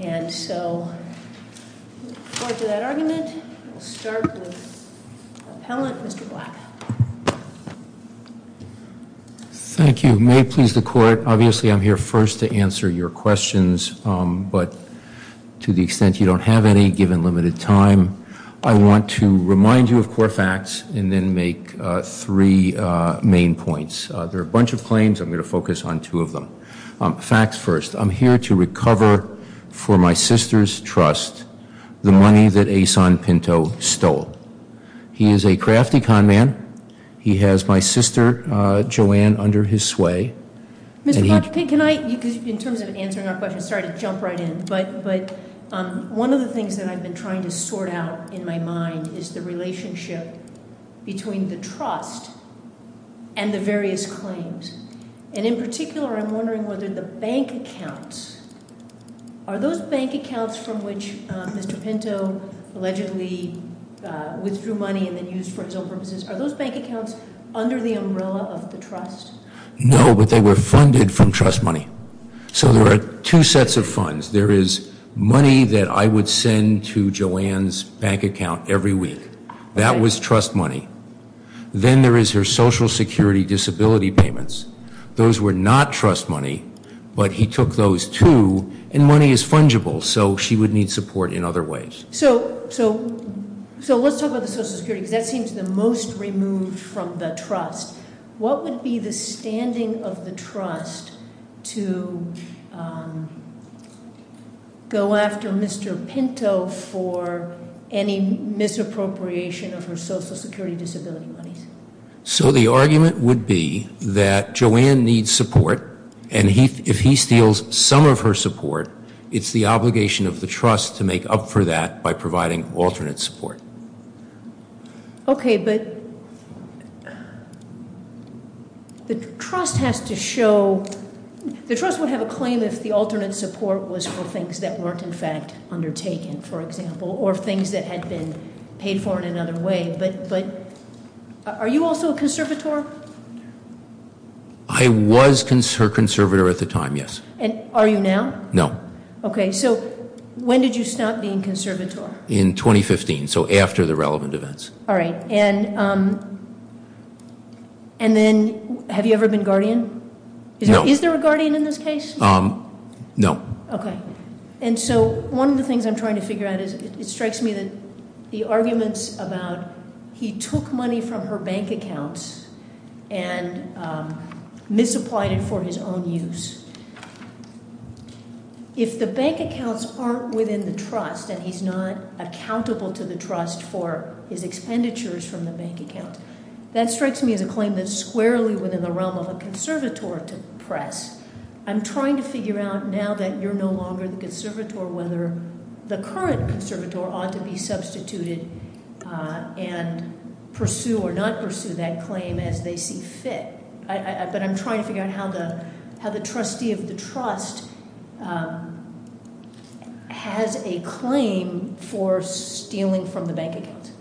and so going to that argument we'll start with the appellant Mr. Black. Thank you may it please the court obviously I'm here first to answer your questions but to the extent you don't have any given limited time I want to remind you of core facts and then make three main points there are a bunch of claims I'm going to focus on two of them facts first I'm here to recover for my sister's trust the money that a son Pinto stole he is a crafty con man he has my sister Joanne under his sway can I in terms of answering our question sorry to jump right in but but one of the things that I've been trying to sort out in my mind is the relationship between the trust and the various claims and in particular I'm wondering whether the bank accounts are those bank accounts from which mr. Pinto allegedly withdrew money and then used for its own purposes are those bank accounts under the umbrella of the trust no but they were funded from trust money so there are two sets of funds there is money that I would send to Joanne's bank account every week that was trust money then there is her social security disability payments those were not trust money but he took those two and money is fungible so she would need support in other ways so so so let's talk about the social security that seems the most removed from the trust what would be the misappropriation of her social security disability money so the argument would be that Joanne needs support and he if he steals some of her support it's the obligation of the trust to make up for that by providing alternate support okay but the trust has to show the trust would have a claim if the alternate support was for things that weren't in fact undertaken for example or things that had been paid for in another way but but are you also a conservator I was concerned conservator at the time yes and are you now no okay so when did you stop being conservator in 2015 so after the relevant events all right and and then have you ever been guardian is there a guardian in this case um no okay and so one of the things I'm trying to figure out is it strikes me that the arguments about he took money from her bank accounts and misapplied it for his own use if the bank accounts aren't within the trust and he's not accountable to the trust for his expenditures from the bank account that strikes me as a claim that's squarely within the realm of a conservator to press I'm trying to figure out now that you're no longer the conservator whether the current conservator ought to be substituted and pursue or not pursue that claim as they see fit but I'm trying to figure out how the how the trustee of the trust has a claim for stealing from the bank account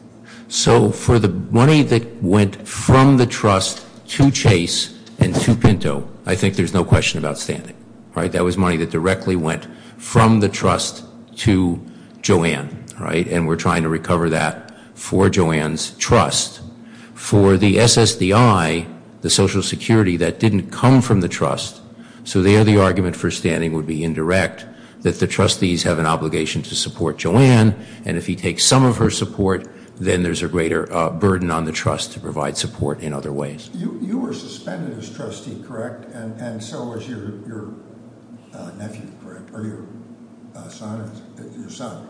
so for the money that went from the trust to chase and to Pinto I think there's no question about standing right that was money that directly went from the trust to Joanne right and we're trying to recover that for Joanne's trust for the SSDI the Social Security that didn't come from the trust so there the argument for standing would be indirect that the trustees have an obligation to burden on the trust to provide support in other ways you were suspended as trustee correct and so was your son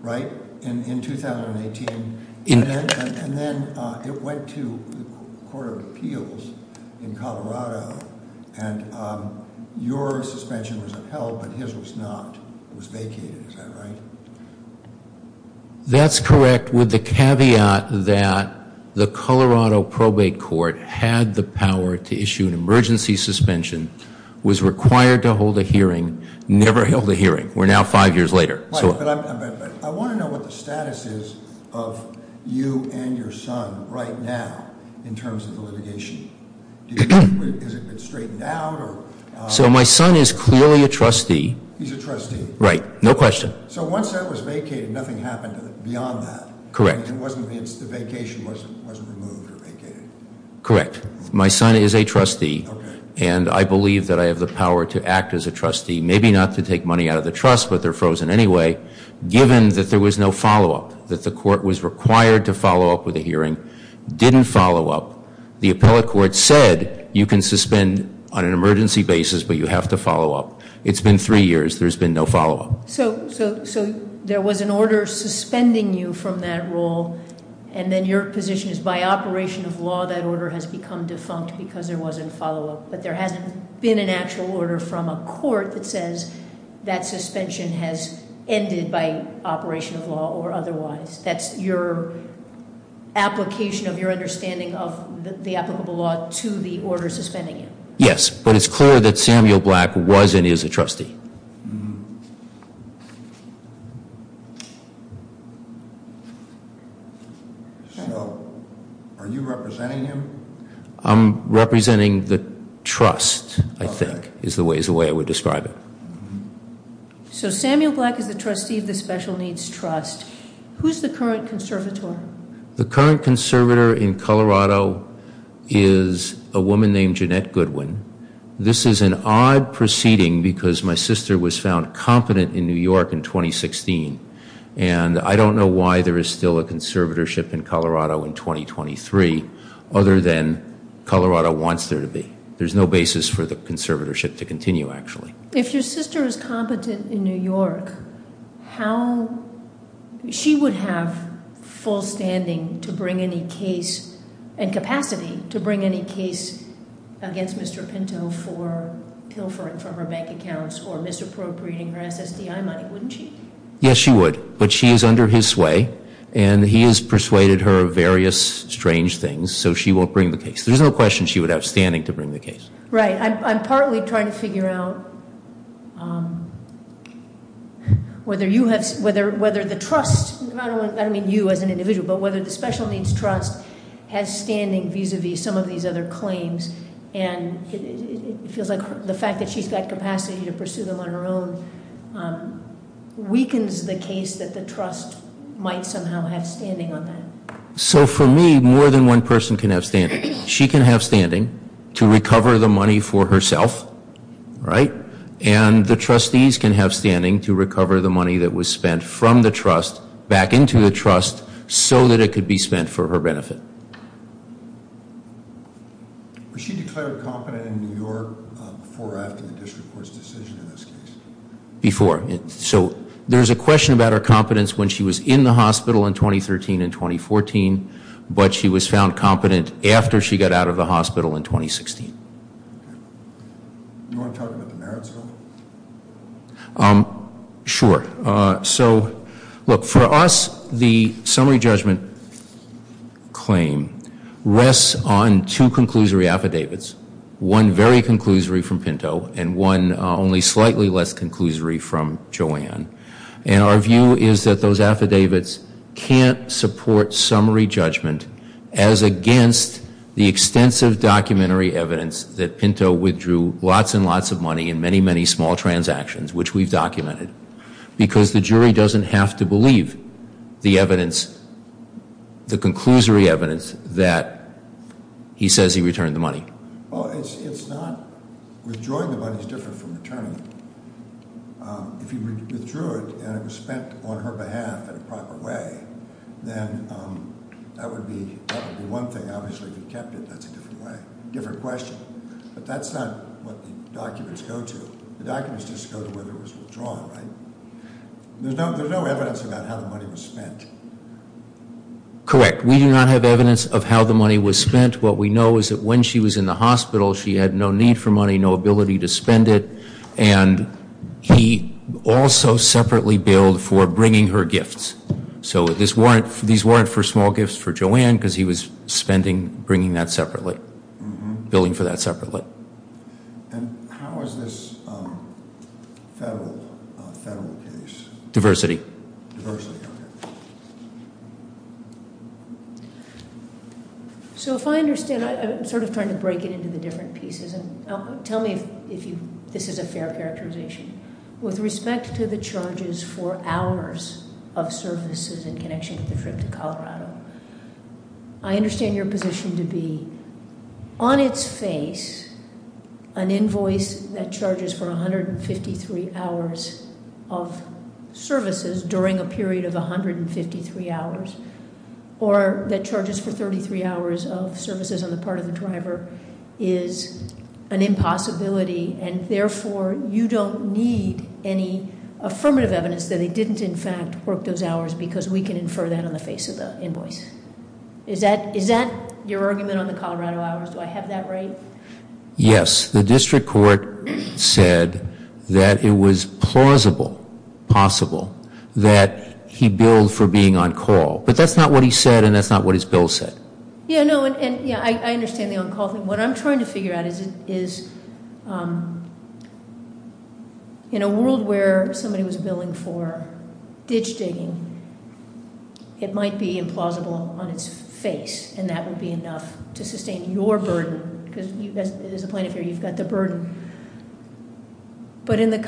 right in 2018 in and then it went to Court of Appeals in Colorado and your suspension was upheld but his was not it was vacated is that right that's correct with the caveat that the Colorado probate court had the power to issue an emergency suspension was required to hold a hearing never held a hearing we're now five years later so my son is clearly a trustee he's a trustee right no question so once beyond that correct correct my son is a trustee and I believe that I have the power to act as a trustee maybe not to take money out of the trust but they're frozen anyway given that there was no follow-up that the court was required to follow up with a hearing didn't follow up the appellate court said you can suspend on an emergency basis but you have to follow up it's been three years there's been no follow-up so so so there was an order suspending you from that role and then your position is by operation of law that order has become defunct because there wasn't follow-up but there hasn't been an actual order from a court that says that suspension has ended by operation of law or otherwise that's your application of your understanding of the applicable law to the order suspending it yes but it's clear that Samuel black wasn't is a are you representing him I'm representing the trust I think is the way is the way I would describe it so Samuel black is the trustee of the special needs trust who's the current conservator the current conservator in Colorado is a woman named Jeanette Goodwin this is an odd proceeding because my sister was found competent in New York in 2016 and I don't know why there is still a conservatorship in Colorado in 2023 other than Colorado wants there to be there's no basis for the conservatorship to continue actually if your sister is competent in New York how she would have full standing to bring any case and capacity to bring any case against mr. Pinto for pilfering for her bank accounts or misappropriating her SSDI money wouldn't she yes she would but she is under his sway and he is persuaded her various strange things so she will bring the case there's no question she would outstanding to bring the case right I'm partly trying to figure out whether you have whether whether the trust I don't mean you as an individual but whether the special needs trust has standing vis-a-vis some of these other claims and it feels like the capacity to pursue them on her own weakens the case that the trust might somehow have standing on that so for me more than one person can have standing she can have standing to recover the money for herself right and the trustees can have standing to recover the money that was spent from the trust back into the trust so that it could be spent for her benefit before it so there's a question about her competence when she was in the hospital in 2013 in 2014 but she was found competent after she got out of the hospital in 2016 sure so look for us the summary judgment claim rests on two and one only slightly less conclusory from Joanne and our view is that those affidavits can't support summary judgment as against the extensive documentary evidence that Pinto withdrew lots and lots of money in many many small transactions which we've documented because the jury doesn't have to believe the evidence the conclusory evidence that he says he returned the money's different from returning if you withdrew it and it was spent on her behalf in a proper way then that would be one thing obviously if you kept it that's a different way different question but that's not what the documents go to the documents just go to whether it was withdrawn right there's no there's no evidence about how the money was spent correct we do not have evidence of how the money was spent what we know is that when she was in the for money no ability to spend it and he also separately billed for bringing her gifts so this warrant these weren't for small gifts for Joanne because he was spending bringing that separately billing for that separately diversity so if I understand I'm sort of trying to break it into the different pieces and tell me if you this is a fair characterization with respect to the charges for hours of services in connection to the trip to Colorado I understand your position to be on its face an invoice that charges for 153 hours of services during a period of 153 hours or that charges for 33 hours of driver is an impossibility and therefore you don't need any affirmative evidence that they didn't in fact work those hours because we can infer that on the face of the invoice is that is that your argument on the Colorado hours do I have that right yes the district court said that it was plausible possible that he billed for being on call but that's not what he said and that's not what his bill said yeah no and yeah I understand the on-call thing what I'm trying to figure out is it is in a world where somebody was billing for ditch digging it might be implausible on its face and that would be enough to sustain your burden because you guys there's a point of here you've got the burden but in the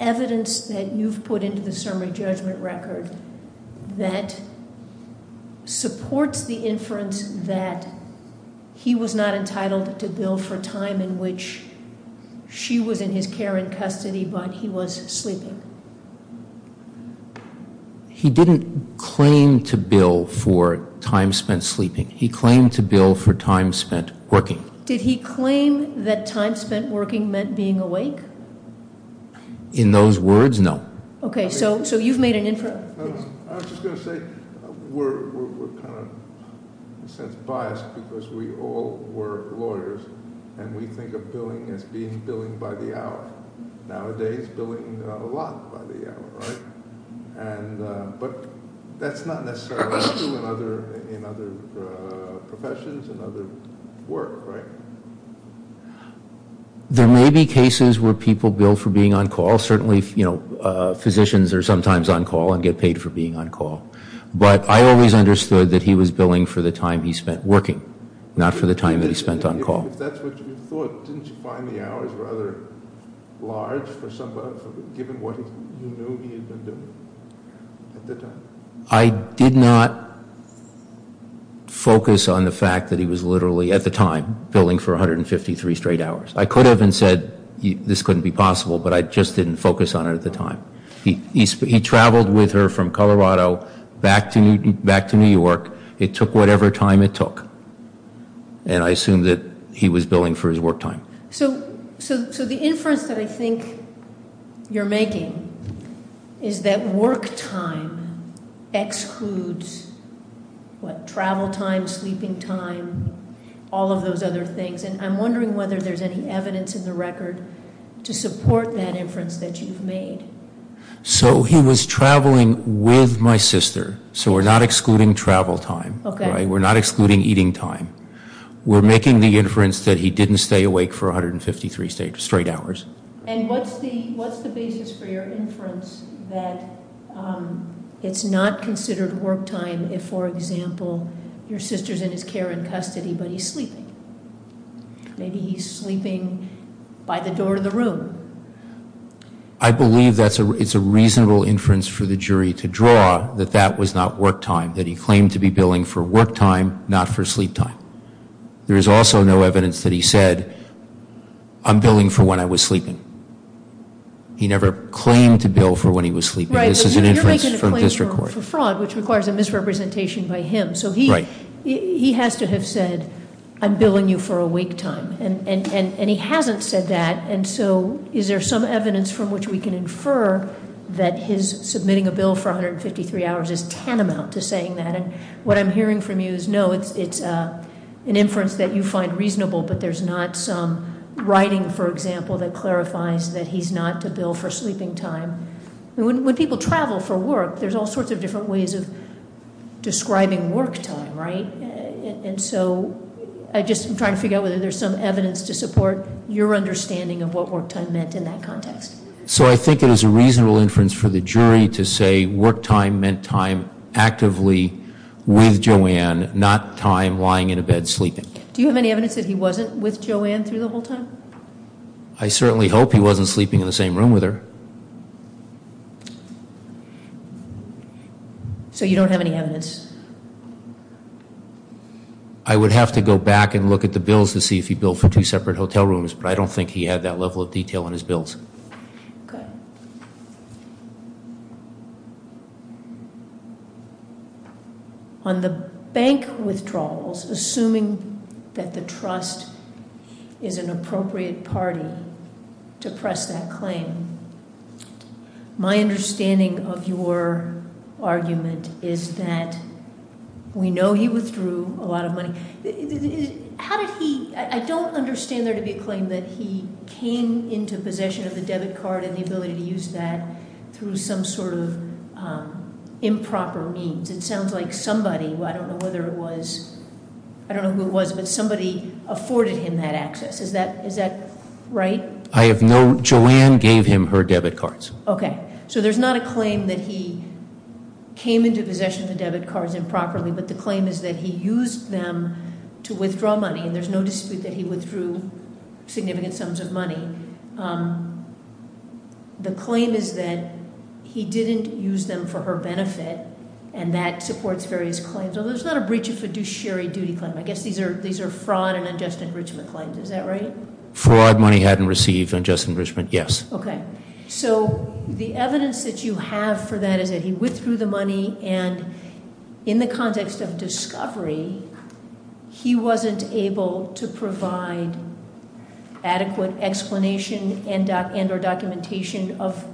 evidence that you've put into the summary judgment record that supports the inference that he was not entitled to bill for time in which she was in his care in custody but he was sleeping he didn't claim to bill for time spent sleeping he claimed to bill for time spent working did he claim that time working meant being awake in those words no okay so so you've made an inference since biased because we all were lawyers and we think of billing as being billing by the hour nowadays doing a lot by the hour and but that's not necessary other professions and other work right there may be cases where people bill for being on call certainly you know physicians are sometimes on call and get paid for being on call but I always understood that he was billing for the time he spent working not for the time that he spent on call I did not focus on the fact that he was literally at the time billing for 153 straight hours I could have been said this couldn't be possible but I just didn't focus on it at the time he traveled with her from Colorado back to Newton back to New York it took whatever time it took and I assumed that he was billing for his work time so so so the inference that I think you're making is that work excludes what travel time sleeping time all of those other things and I'm wondering whether there's any evidence in the record to support that inference that you've made so he was traveling with my sister so we're not excluding travel time okay we're not excluding eating time we're making the inference that he didn't stay awake for 153 straight hours it's not considered work time if for example your sister's in his care in custody but he's sleeping maybe he's sleeping by the door of the room I believe that's a it's a reasonable inference for the jury to draw that that was not work time that he claimed to be billing for work time not for sleep time there is also no evidence that he said I'm billing for when I was sleeping he never claimed to bill for when he was sleeping which requires a misrepresentation by him so he he has to have said I'm billing you for a wake time and and and he hasn't said that and so is there some evidence from which we can infer that his submitting a bill for 153 hours is tantamount to saying that and what I'm hearing from you is no it's it's an inference that you find reasonable but there's not some writing for example that clarifies that he's not to bill for sleeping time when people travel for work there's all sorts of different ways of describing work time right and so I just I'm trying to figure out whether there's some evidence to support your understanding of what work time meant in that context so I think it is a reasonable inference for the jury to say work time meant time actively with Joanne not time lying in a bed sleeping do you have any evidence that he wasn't with Joanne through the whole I certainly hope he wasn't sleeping in the same room with her so you don't have any evidence I would have to go back and look at the bills to see if he built for two separate hotel rooms but I don't think he had that level of detail in his bills on the bank withdrawals assuming that the trust is an appropriate party to press that claim my understanding of your argument is that we know he withdrew a lot of money how did he I don't understand there to be a claim that he came into possession of the debit card and the ability to use that through some sort of improper means it sounds like somebody well I don't know whether it was I don't know who it was but somebody afforded him that access is that is that right I have no Joanne gave him her debit cards okay so there's not a claim that he came into possession of the debit cards improperly but the claim is that he used them to withdraw money and there's no dispute that he withdrew significant sums of money the claim is that he didn't use them for her benefit and that supports various claims although there's not a breach of a duchery duty claim I guess these are these are fraud and unjust enrichment claims is that right fraud money hadn't received unjust enrichment yes okay so the evidence that you have for that is that he withdrew the money and in the adequate explanation and doc and or documentation of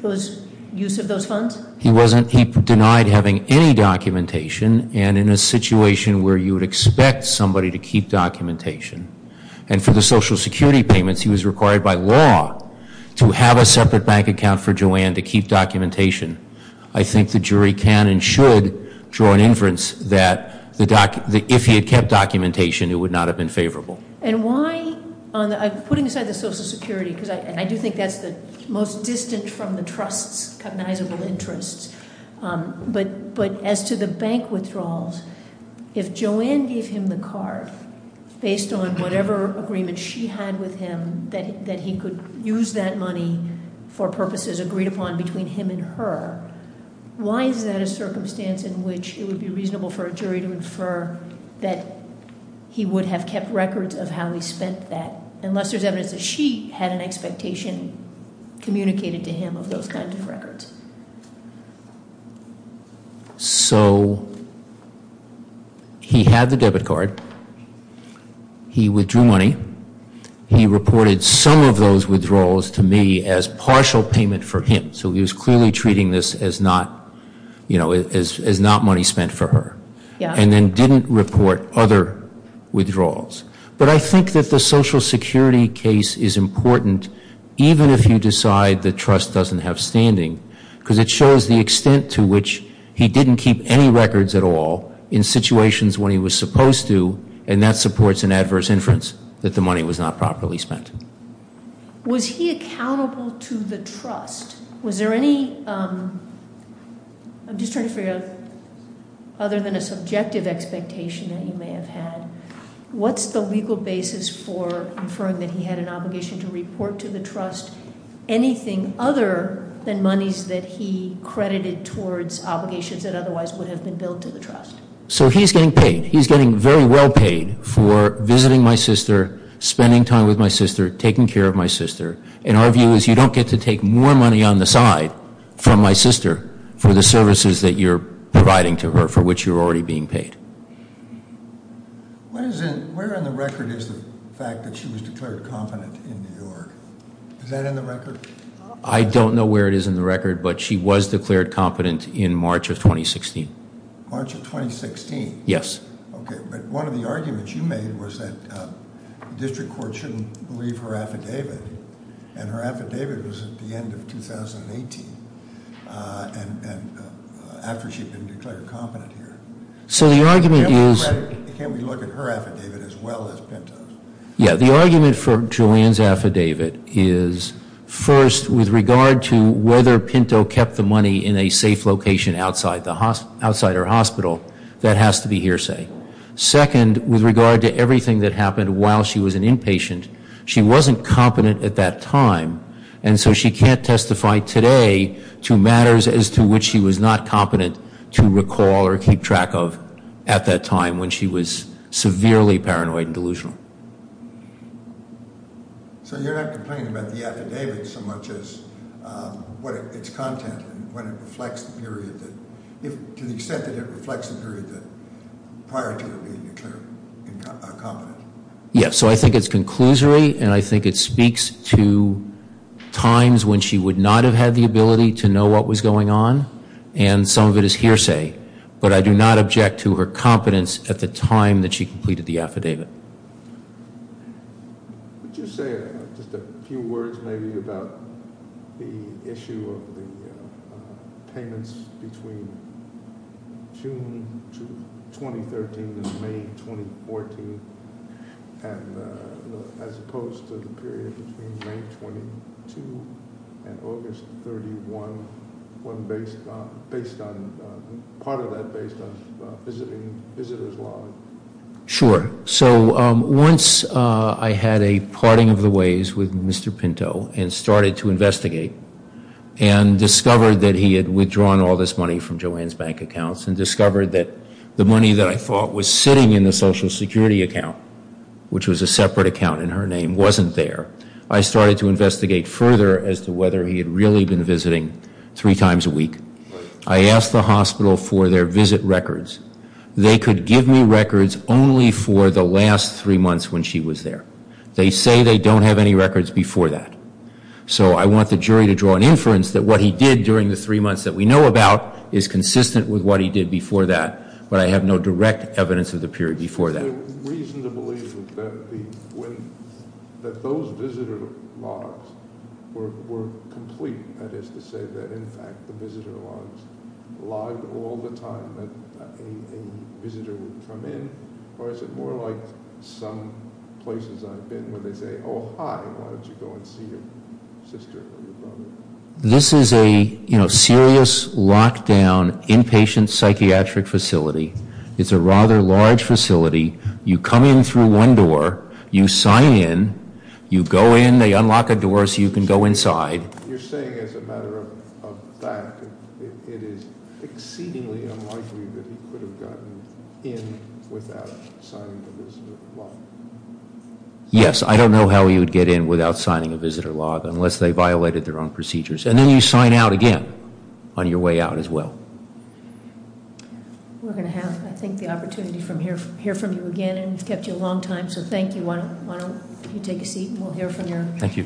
those use of those funds he wasn't he denied having any documentation and in a situation where you would expect somebody to keep documentation and for the Social Security payments he was required by law to have a separate bank account for Joanne to keep documentation I think the jury can and should draw an inference that the doc if he had kept documentation it would not have been favorable and why on the putting aside the Social Security because I do think that's the most distant from the trust's cognizable interests but but as to the bank withdrawals if Joanne gave him the card based on whatever agreement she had with him that he could use that money for purposes agreed upon between him and why is that a circumstance in which it would be reasonable for a jury to infer that he would have kept records of how he spent that unless there's evidence that she had an expectation communicated to him of those kinds of records so he had the debit card he withdrew money he reported some of those withdrawals to me as partial payment for him so he was clearly treating this as not you know as not money spent for her yeah and then didn't report other withdrawals but I think that the Social Security case is important even if you decide the trust doesn't have standing because it shows the extent to which he didn't keep any records at all in situations when he was supposed to and that supports an adverse inference that the money was not properly spent was he accountable to the trust was there any I'm just trying to figure out other than a subjective expectation that you may have had what's the legal basis for inferring that he had an obligation to report to the trust anything other than monies that he credited towards obligations that otherwise would have been built to the my sister spending time with my sister taking care of my sister and our view is you don't get to take more money on the side from my sister for the services that you're providing to her for which you're already being paid I don't know where it is in the record but she was declared competent in March of 2016 March of 2016 yes okay but one of the arguments you made was that the district court shouldn't believe her affidavit and her affidavit was at the end of 2018 so the argument is yeah the argument for Julian's affidavit is first with regard to whether Pinto kept the money in a safe location outside the hospital that has to be hearsay second with regard to everything that happened while she was an inpatient she wasn't competent at that time and so she can't testify today to matters as to which she was not competent to recall or keep track of at that time when she was severely paranoid and delusional so you're not complaining about the affidavit so much as what its content when it reflects the period that if to the extent that it reflects the period that prior to it being declared competent yes so I think it's conclusory and I think it speaks to times when she would not have had the ability to know what was going on and some of it is hearsay but I do not object to her competence at the time that she completed the affidavit sure so once I had a parting of the ways with mr. Pinto and started to investigate and discovered that he had withdrawn all this money from Joanne's bank accounts and discovered that the money that I thought was sitting in the social security account which was a separate account in her name wasn't there I started to investigate further as to whether he had really been visiting three times a week I asked the hospital for their visit records they could give me records only for the last three months when she was there they say they don't have any records before that so I want the jury to draw an inference that what he did during the three months that we know about is consistent with what he did before that but I have no direct evidence of the this is a you know serious lockdown inpatient psychiatric facility it's a rather large facility you come in through one door you sign in you go in they unlock a door so you can go inside yes I don't know how you would get in without signing a visitor log unless they violated their own procedures and then you sign out again on your way out as well I think the opportunity from here hear from you again and kept you a long time so thank you why don't you take a seat and we'll hear from your thank you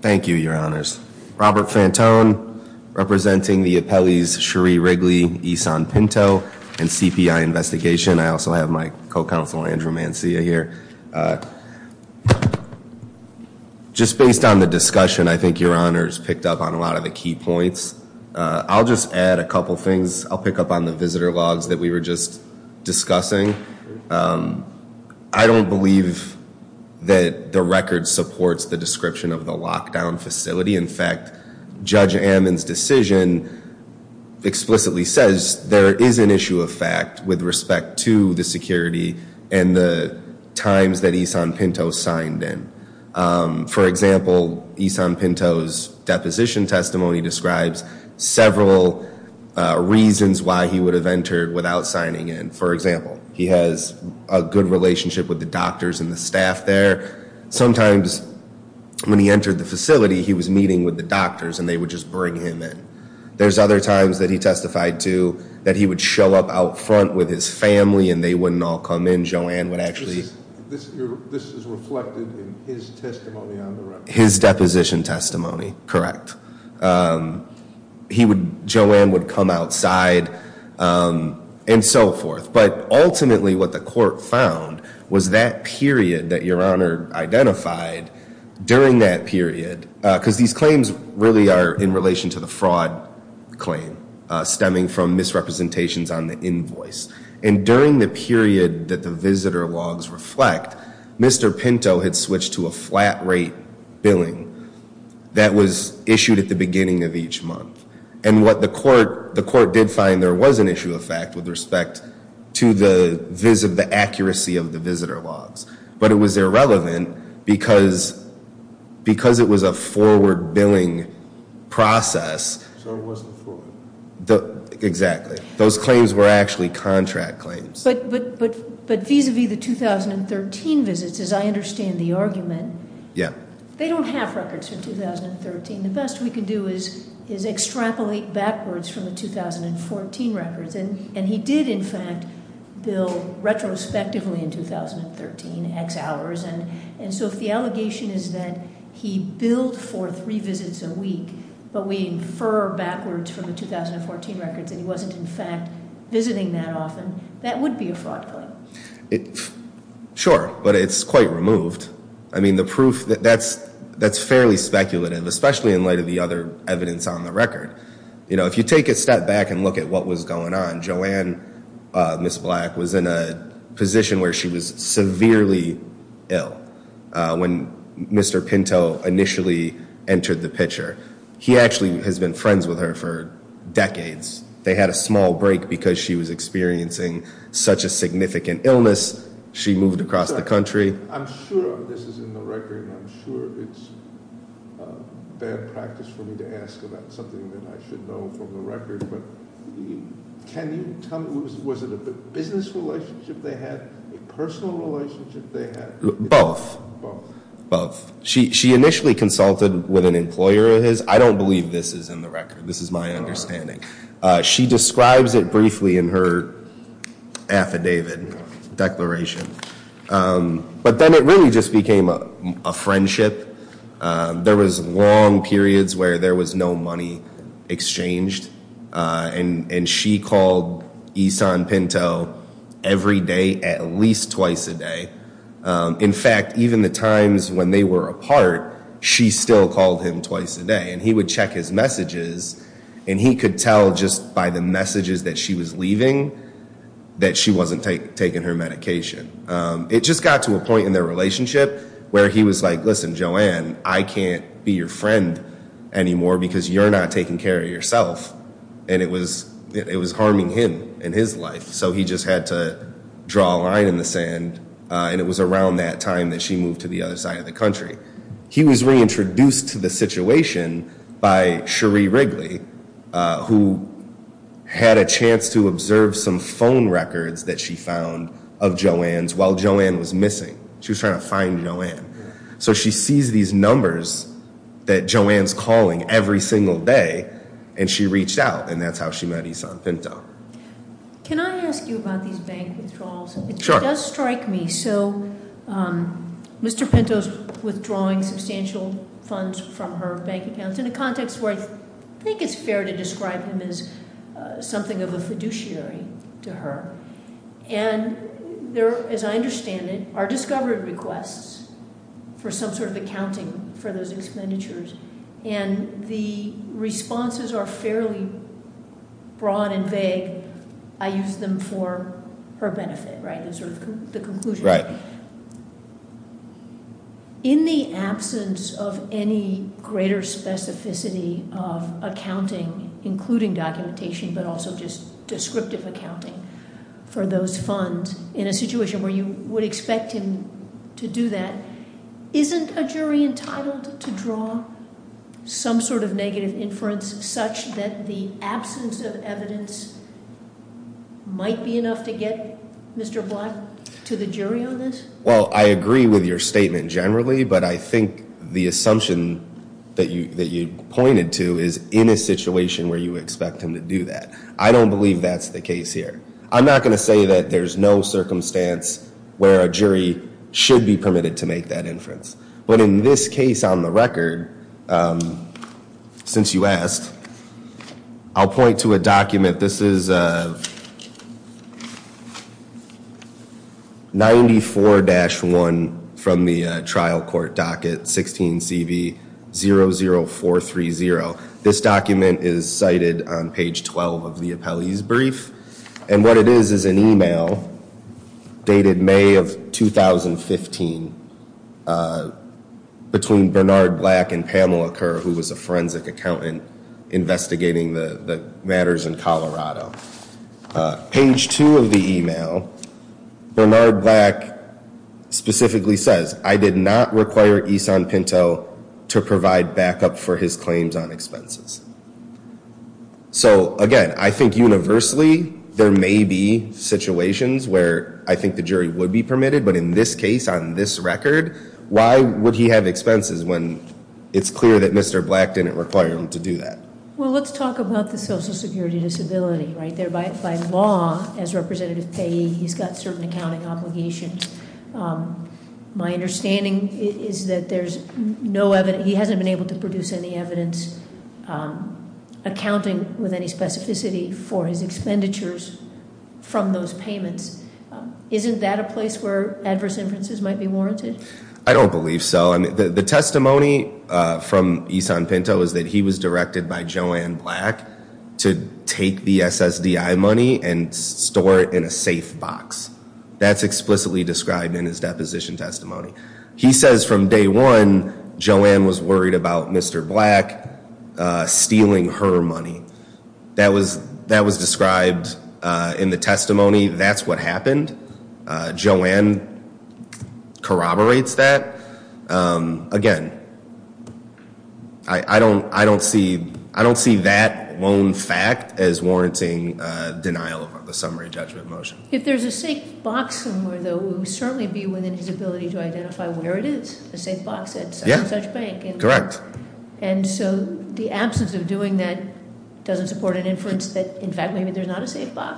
thank you your honors Robert Fantone representing the appellees Sheree Wrigley Eason Pinto and CPI investigation I also have my co-counsel Andrew Mancia here just based on the discussion I think your honors picked up on a lot of the key points I'll just add a couple things I'll pick up on the visitor logs that we were just discussing I don't believe that the record supports the description of the lockdown facility in fact judge Ammons decision explicitly says there is an issue of fact with respect to the security and the times that Eason Pinto signed in for example Eason Pinto's deposition testimony describes several reasons why he would have entered without signing in for example he has a good relationship with the doctors and the staff there sometimes when he entered the facility he was meeting with the doctors and they would just bring him in there's other times that he testified to that he would show up out front with his family and they wouldn't all come in his deposition testimony correct he would Joanne would come outside and so forth but ultimately what the court found was that period that your honor identified during that period because these claims really are in relation to the fraud claim stemming from misrepresentations on the invoice and during the period that the visitor logs reflect mr. Pinto had switched to a flat rate billing that was issued at the beginning of each month and what the court the court did find there was an issue of fact with respect to the vis of the accuracy of the visitor logs but it was irrelevant because because it was a but but but but vis-a-vis the 2013 visits as I understand the argument yeah they don't have records for 2013 the best we can do is is extrapolate backwards from the 2014 records and and he did in fact bill retrospectively in 2013 X hours and and so if the allegation is that he billed for three visits a week but we infer backwards from the 2014 records and he wasn't in that often that would be a fraud sure but it's quite removed I mean the proof that that's that's fairly speculative especially in light of the other evidence on the record you know if you take a step back and look at what was going on Joanne miss black was in a position where she was severely ill when mr. Pinto initially entered the picture he actually has been friends with her decades they had a small break because she was experiencing such a significant illness she moved across the country both she initially consulted with an employer his I don't believe this is in the record this is my understanding she describes it briefly in her affidavit declaration but then it really just became a friendship there was long periods where there was no money exchanged and and she called Isan Pinto every day at least twice a day in fact even the times when they were apart she still called him twice a day and he would check his messages and he could tell just by the messages that she was leaving that she wasn't taking her medication it just got to a point in their relationship where he was like listen Joanne I can't be your friend anymore because you're not taking care of yourself and it was it was harming him in his life so he just had to draw a line in the sand and it was around that time that she moved to the other country he was reintroduced to the situation by Cherie Wrigley who had a chance to observe some phone records that she found of Joanne's while Joanne was missing she was trying to find Joanne so she sees these numbers that Joanne's calling every single day and she reached out and that's how she met It does strike me so Mr. Pinto's withdrawing substantial funds from her bank accounts in a context where I think it's fair to describe him as something of a fiduciary to her and there as I understand it are discovery requests for some sort of accounting for those expenditures and the responses are broad and vague I use them for her benefit right the conclusion right in the absence of any greater specificity of accounting including documentation but also just descriptive accounting for those funds in a situation where you would expect him to do that isn't a jury entitled to draw some sort of negative inference such that the absence of evidence might be enough to get Mr. Block to the jury on this well I agree with your statement generally but I think the assumption that you that you pointed to is in a situation where you expect him to do that I don't believe that's the case here I'm not going to say that there's no circumstance where a jury should be permitted to make that inference but in this case on the record since you asked I'll point to a document this is 94-1 from the trial court docket 16 CV 0 0 4 3 0 this document is cited on page 12 of the appellees brief and what it is is an 15 between Bernard Black and Pamela Kerr who was a forensic accountant investigating the matters in Colorado page 2 of the email Bernard Black specifically says I did not require Eason Pinto to provide backup for his claims on expenses so again I think universally there may be situations where I think the jury would be permitted but in this case on this record why would he have expenses when it's clear that mr. black didn't require him to do that well let's talk about the Social Security disability right there by law as representative payee he's got certain accounting obligations my understanding is that there's no evidence he hasn't been able to produce any evidence accounting with any specificity for his expenditures from those payments isn't that a place where adverse inferences might be warranted I don't believe so I mean the testimony from Eason Pinto is that he was directed by Joanne black to take the SSDI money and store it in a safe box that's explicitly described in his deposition testimony he says from day one Joanne was worried about mr. black stealing her money that was that was described in the testimony that's what happened Joanne corroborates that again I I don't I don't see I don't see that lone fact as warranting denial of the summary judgment motion if there's a safe box somewhere though who certainly be within his ability to identify where it is a safe box it's correct and so the absence of doing that doesn't support an inference that in fact maybe there's not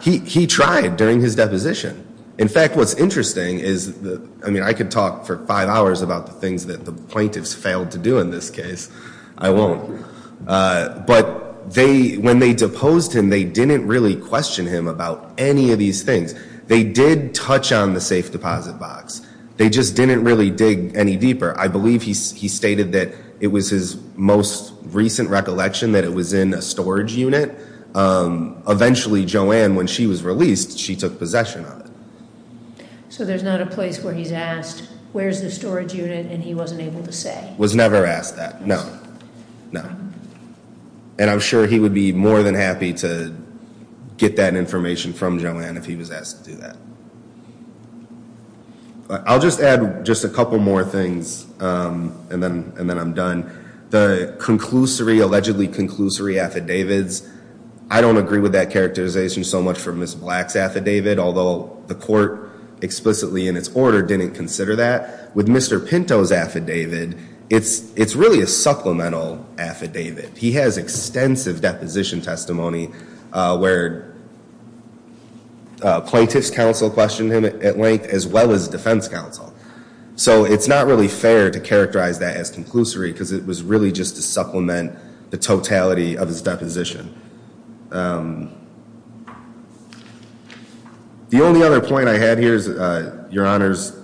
he tried during his deposition in fact what's interesting is I mean I could talk for five hours about the things that the plaintiffs failed to do in this case I won't but they when they deposed him they didn't really question him about any of these things they did touch on the safe deposit box they just didn't really dig any deeper I believe he stated that it was his most recent recollection that it was in a storage unit eventually Joanne when she was released she took possession of it so there's not a place where he's asked where's the storage unit and he wasn't able to say was never asked that no no and I'm sure he would be more than happy to get that information from Joanne if he was asked to do that I'll just add just a couple more things and then and conclusory allegedly conclusory affidavits I don't agree with that characterization so much for miss blacks affidavit although the court explicitly in its order didn't consider that with mr. Pinto's affidavit it's it's really a supplemental affidavit he has extensive deposition testimony where plaintiffs counsel questioned him at length as well as defense counsel so it's not really fair to characterize that as conclusory because it was really just to supplement the totality of his deposition the only other point I had here is your honors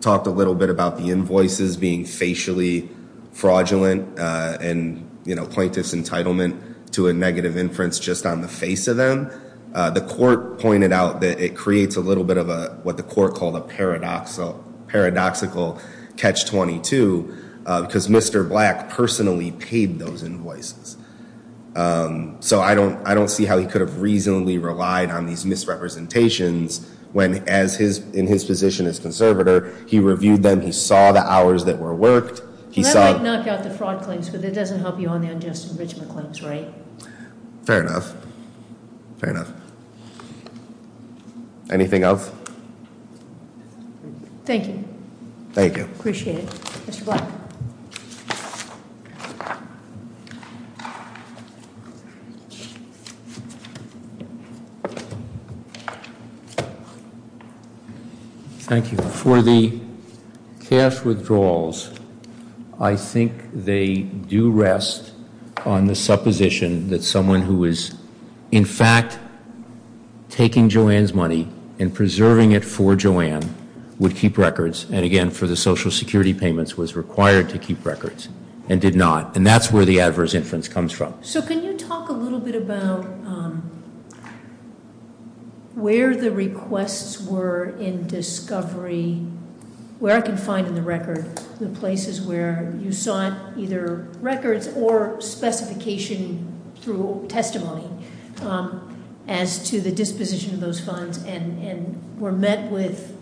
talked a little bit about the invoices being facially fraudulent and you know plaintiffs entitlement to a negative inference just on the face of them the court pointed out that it creates a little bit of a what the court called a paradoxical paradoxical catch-22 because mr. black personally paid those invoices so I don't I don't see how he could have reasonably relied on these misrepresentations when as his in his position as conservator he reviewed them he saw the hours that were worked he saw it doesn't help you on the unjust anything else thank you thank you appreciate it thank you for the cash withdrawals I think they do rest on the supposition that someone who is in fact taking Joanne's money and preserving it for Joanne would keep records and again for the Social Security payments was required to keep records and did not and that's where the adverse inference comes from so can you talk a little bit about where the requests were in discovery where I can find in the record the places where you saw it either records or specification through testimony as to the disposition of those funds and and were met with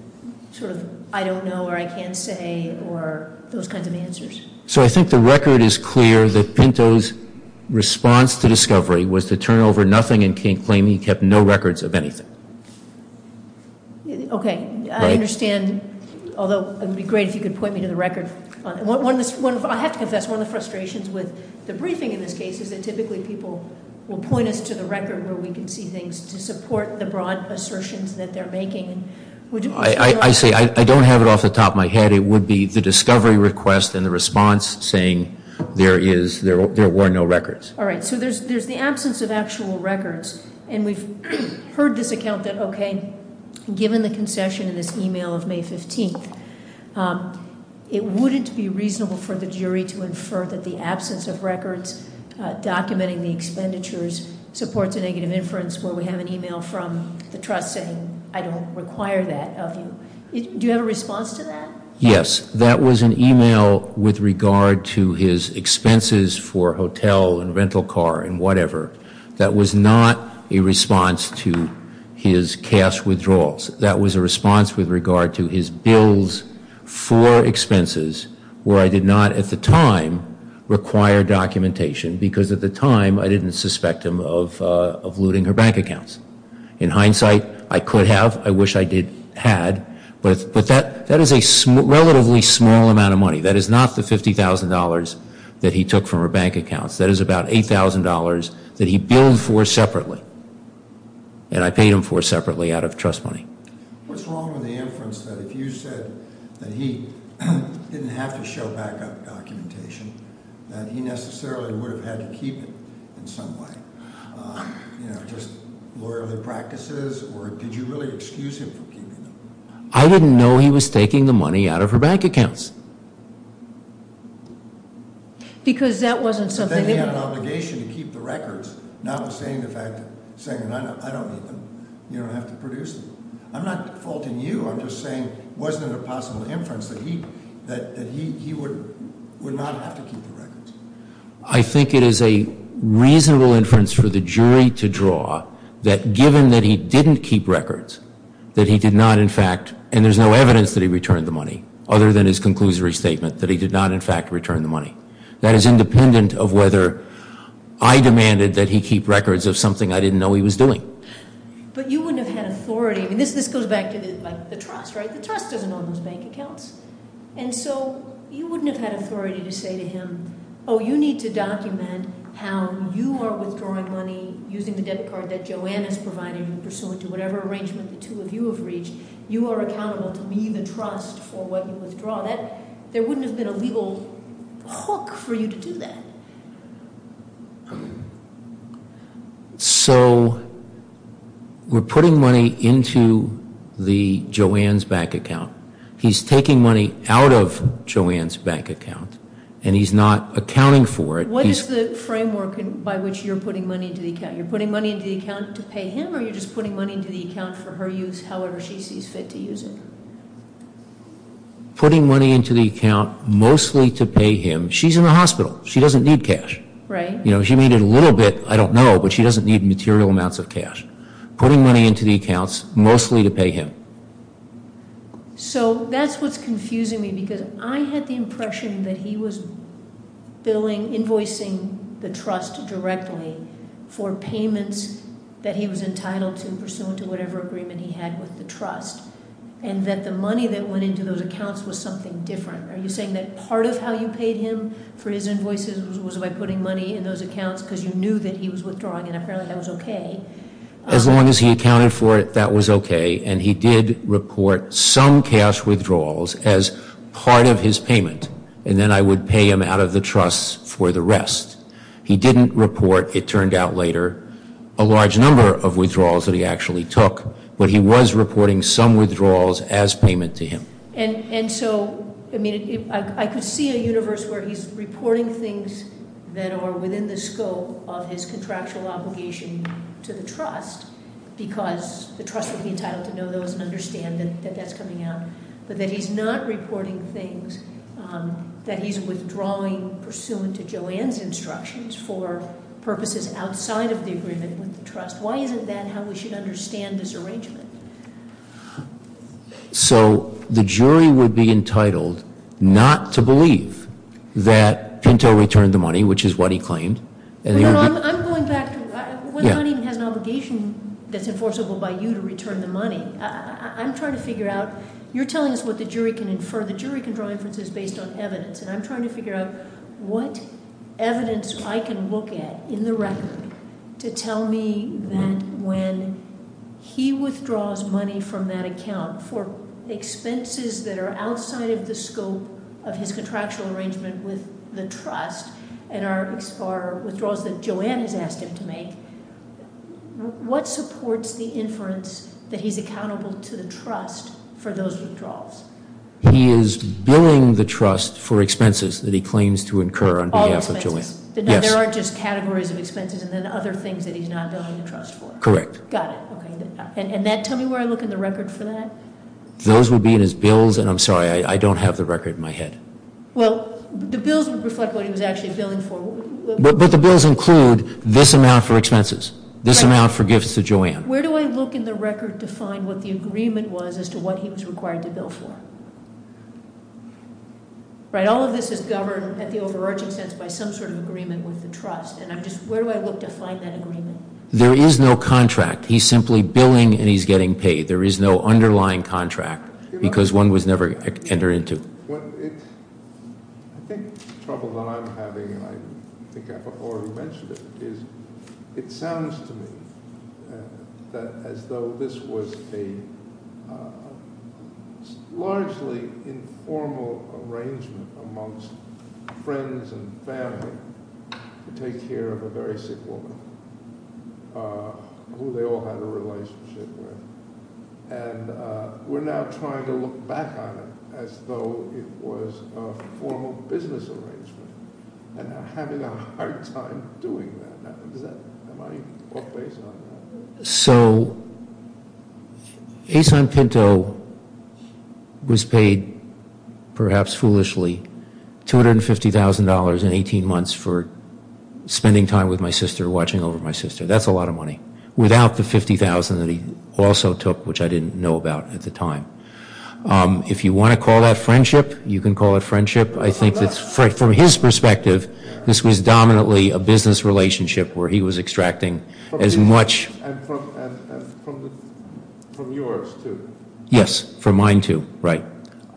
sort of I don't know or I can't say or those kinds of answers so I think the record is clear that Pinto's response to discovery was to turn over nothing and can't claim he kept no records of anything okay I understand although it would be great if you could point me to the record what I have to confess one of the frustrations with the briefing in this case is that typically people will point us to the record where we can see things to support the broad assertions that they're making I say I don't have it off the top my head it would be the discovery request and the response saying there is there were no records all right so there's there's the absence of actual records and we've heard this account that okay given the concession in this email of May 15th it wouldn't be reasonable for the jury to infer that the absence of records documenting the expenditures supports a negative inference where we have an email from the trust saying I don't require that of you do you have a response to that yes that was an email with regard to his expenses for hotel and rental car and whatever that was not a response to his cash withdrawals that was a response with regard to his bills for expenses where I did not at the time require documentation because at the time I didn't suspect him of looting her bank accounts in hindsight I could have I wish I did had but but that that is a relatively small amount of money that is not the $50,000 that he took from her bank accounts that is about $8,000 that he billed for separately and I paid him for separately out of trust money I didn't know he was taking the money out of her bank accounts because that saying I don't you don't have to produce I'm not faulting you I'm just saying wasn't a possible inference that he that he would would not have to keep the records I think it is a reasonable inference for the jury to draw that given that he didn't keep records that he did not in fact and there's no evidence that he returned the money other than his conclusory statement that he did not in fact return the money that is independent of whether I demanded that he keep records of something I didn't know he was doing but you wouldn't have had authority I mean this this goes back to the trust right the trust doesn't own those bank accounts and so you wouldn't have had authority to say to him oh you need to document how you are withdrawing money using the debit card that Joanne is providing pursuant to whatever arrangement the two of you have reached you are accountable to me the trust for what you withdraw that there wouldn't have been a legal hook for you to do that so we're putting money into the Joanne's bank account he's taking money out of Joanne's bank account and he's not accounting for it what is the framework and by which you're putting money into the account you're putting money into the account to pay him or you're just putting money into the account for her use however she is fit to use it putting money into the account mostly to pay him she's in the hospital she doesn't need cash right you know she needed a little bit I don't know but she doesn't need material amounts of cash putting money into the accounts mostly to pay him so that's what's confusing me because I had the impression that he was billing invoicing the trust directly for payments that he was entitled to pursuant to whatever agreement he had with the trust and that the money that went into those accounts was something different are you saying that part of how you paid him for his invoices was by putting money in those accounts because you knew that he was withdrawing and apparently that was okay as long as he accounted for it that was okay and he did report some cash withdrawals as part of his payment and then I would pay him out of the trust for the rest he didn't report it turned out later a large number of withdrawals that he actually took but he was reporting some withdrawals as payment to him and and so I mean I could see a universe where he's reporting things that are within the scope of his contractual obligation to the trust because the trust would be entitled to know those and understand that that's coming out but that he's not reporting things that he's withdrawing pursuant to Joanne's instructions for purposes outside of the agreement with the trust why isn't that how we should understand this arrangement so the jury would be entitled not to believe that Pinto returned the money which is what he claimed and he has an obligation that's enforceable by you to return the money I'm trying to figure out you're telling us what the jury can infer the jury can draw inferences based on evidence and I'm trying to figure out what evidence I can look at in the record to tell me that when he withdraws money from that account for expenses that are outside of the scope of his contractual arrangement with the trust and our withdrawals that Joanne has asked him to make what supports the inference that he's accountable to the trust for those he is billing the trust for expenses that he claims to incur on behalf of Joanne yes there are just categories of expenses and then other things that he's not going to trust for correct got it and that tell me where I look in the record for that those would be in his bills and I'm sorry I don't have the record in my head well the bills would reflect what he was actually billing for but the bills include this amount for expenses this amount for gifts to Joanne where do I look in the record to find what the agreement was as to what he was required to bill for right all of this is governed at the overarching sense by some sort of agreement with the trust and I'm just where do I look to find that agreement there is no contract he's simply billing and he's getting paid there is no underlying contract because one was never enter into I think trouble that I'm having and I think I've already mentioned it is it sounds to me that as though this was a largely informal arrangement amongst friends and family to take care of a very sick woman who they all had a relationship with and we're now trying to look back on it as though it was a formal business arrangement and I'm having a hard time doing that, am I off base on that? So, Asan Pinto was paid perhaps foolishly $250,000 in 18 months for spending time with my sister watching over my sister that's a lot of money without the 50,000 that he also took which I didn't know about at the time if you want to call that friendship you can call it friendship I think that's right from his perspective this was dominantly a business relationship where he was extracting as much yes for mine to right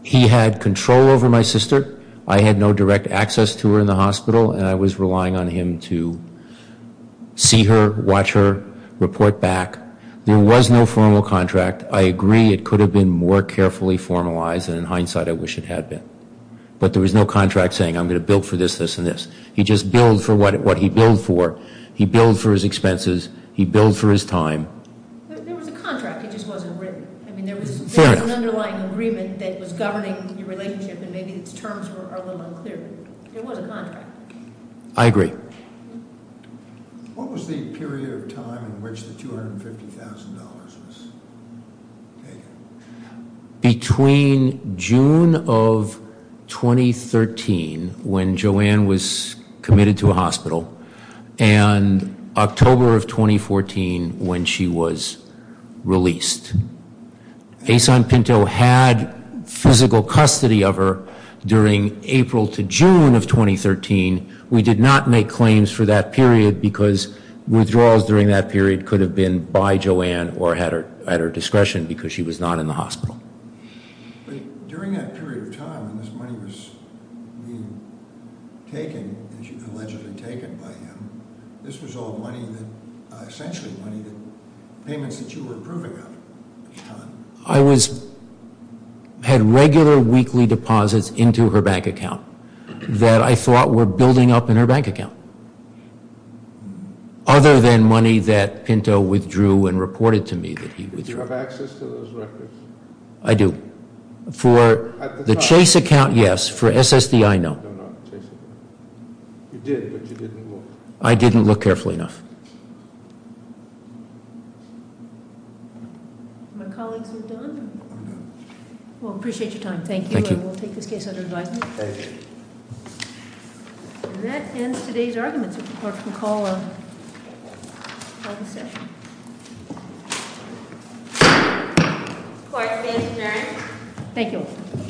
he had control over my sister I had no direct access to her in the hospital and I was relying on him to see her watch her report back there was no formal contract I agree it could have been more carefully formalized and in hindsight I wish it had been but there was no contract saying I'm going to build for this this and this he just billed for what it what he billed for he billed for his expenses he billed for his time I agree what was the period of time in which the $250,000 between June of 2013 when Joanne was committed to a hospital and October of 2014 when she was released Asan Pinto had physical custody of her during April to June of 2013 we did not make claims for that period because withdrawals during that period could have been by Joanne or had her at her discretion because she was not in the hospital I was had regular weekly deposits into her bank account that I other than money that Pinto withdrew and reported to me I do for the Chase all thank you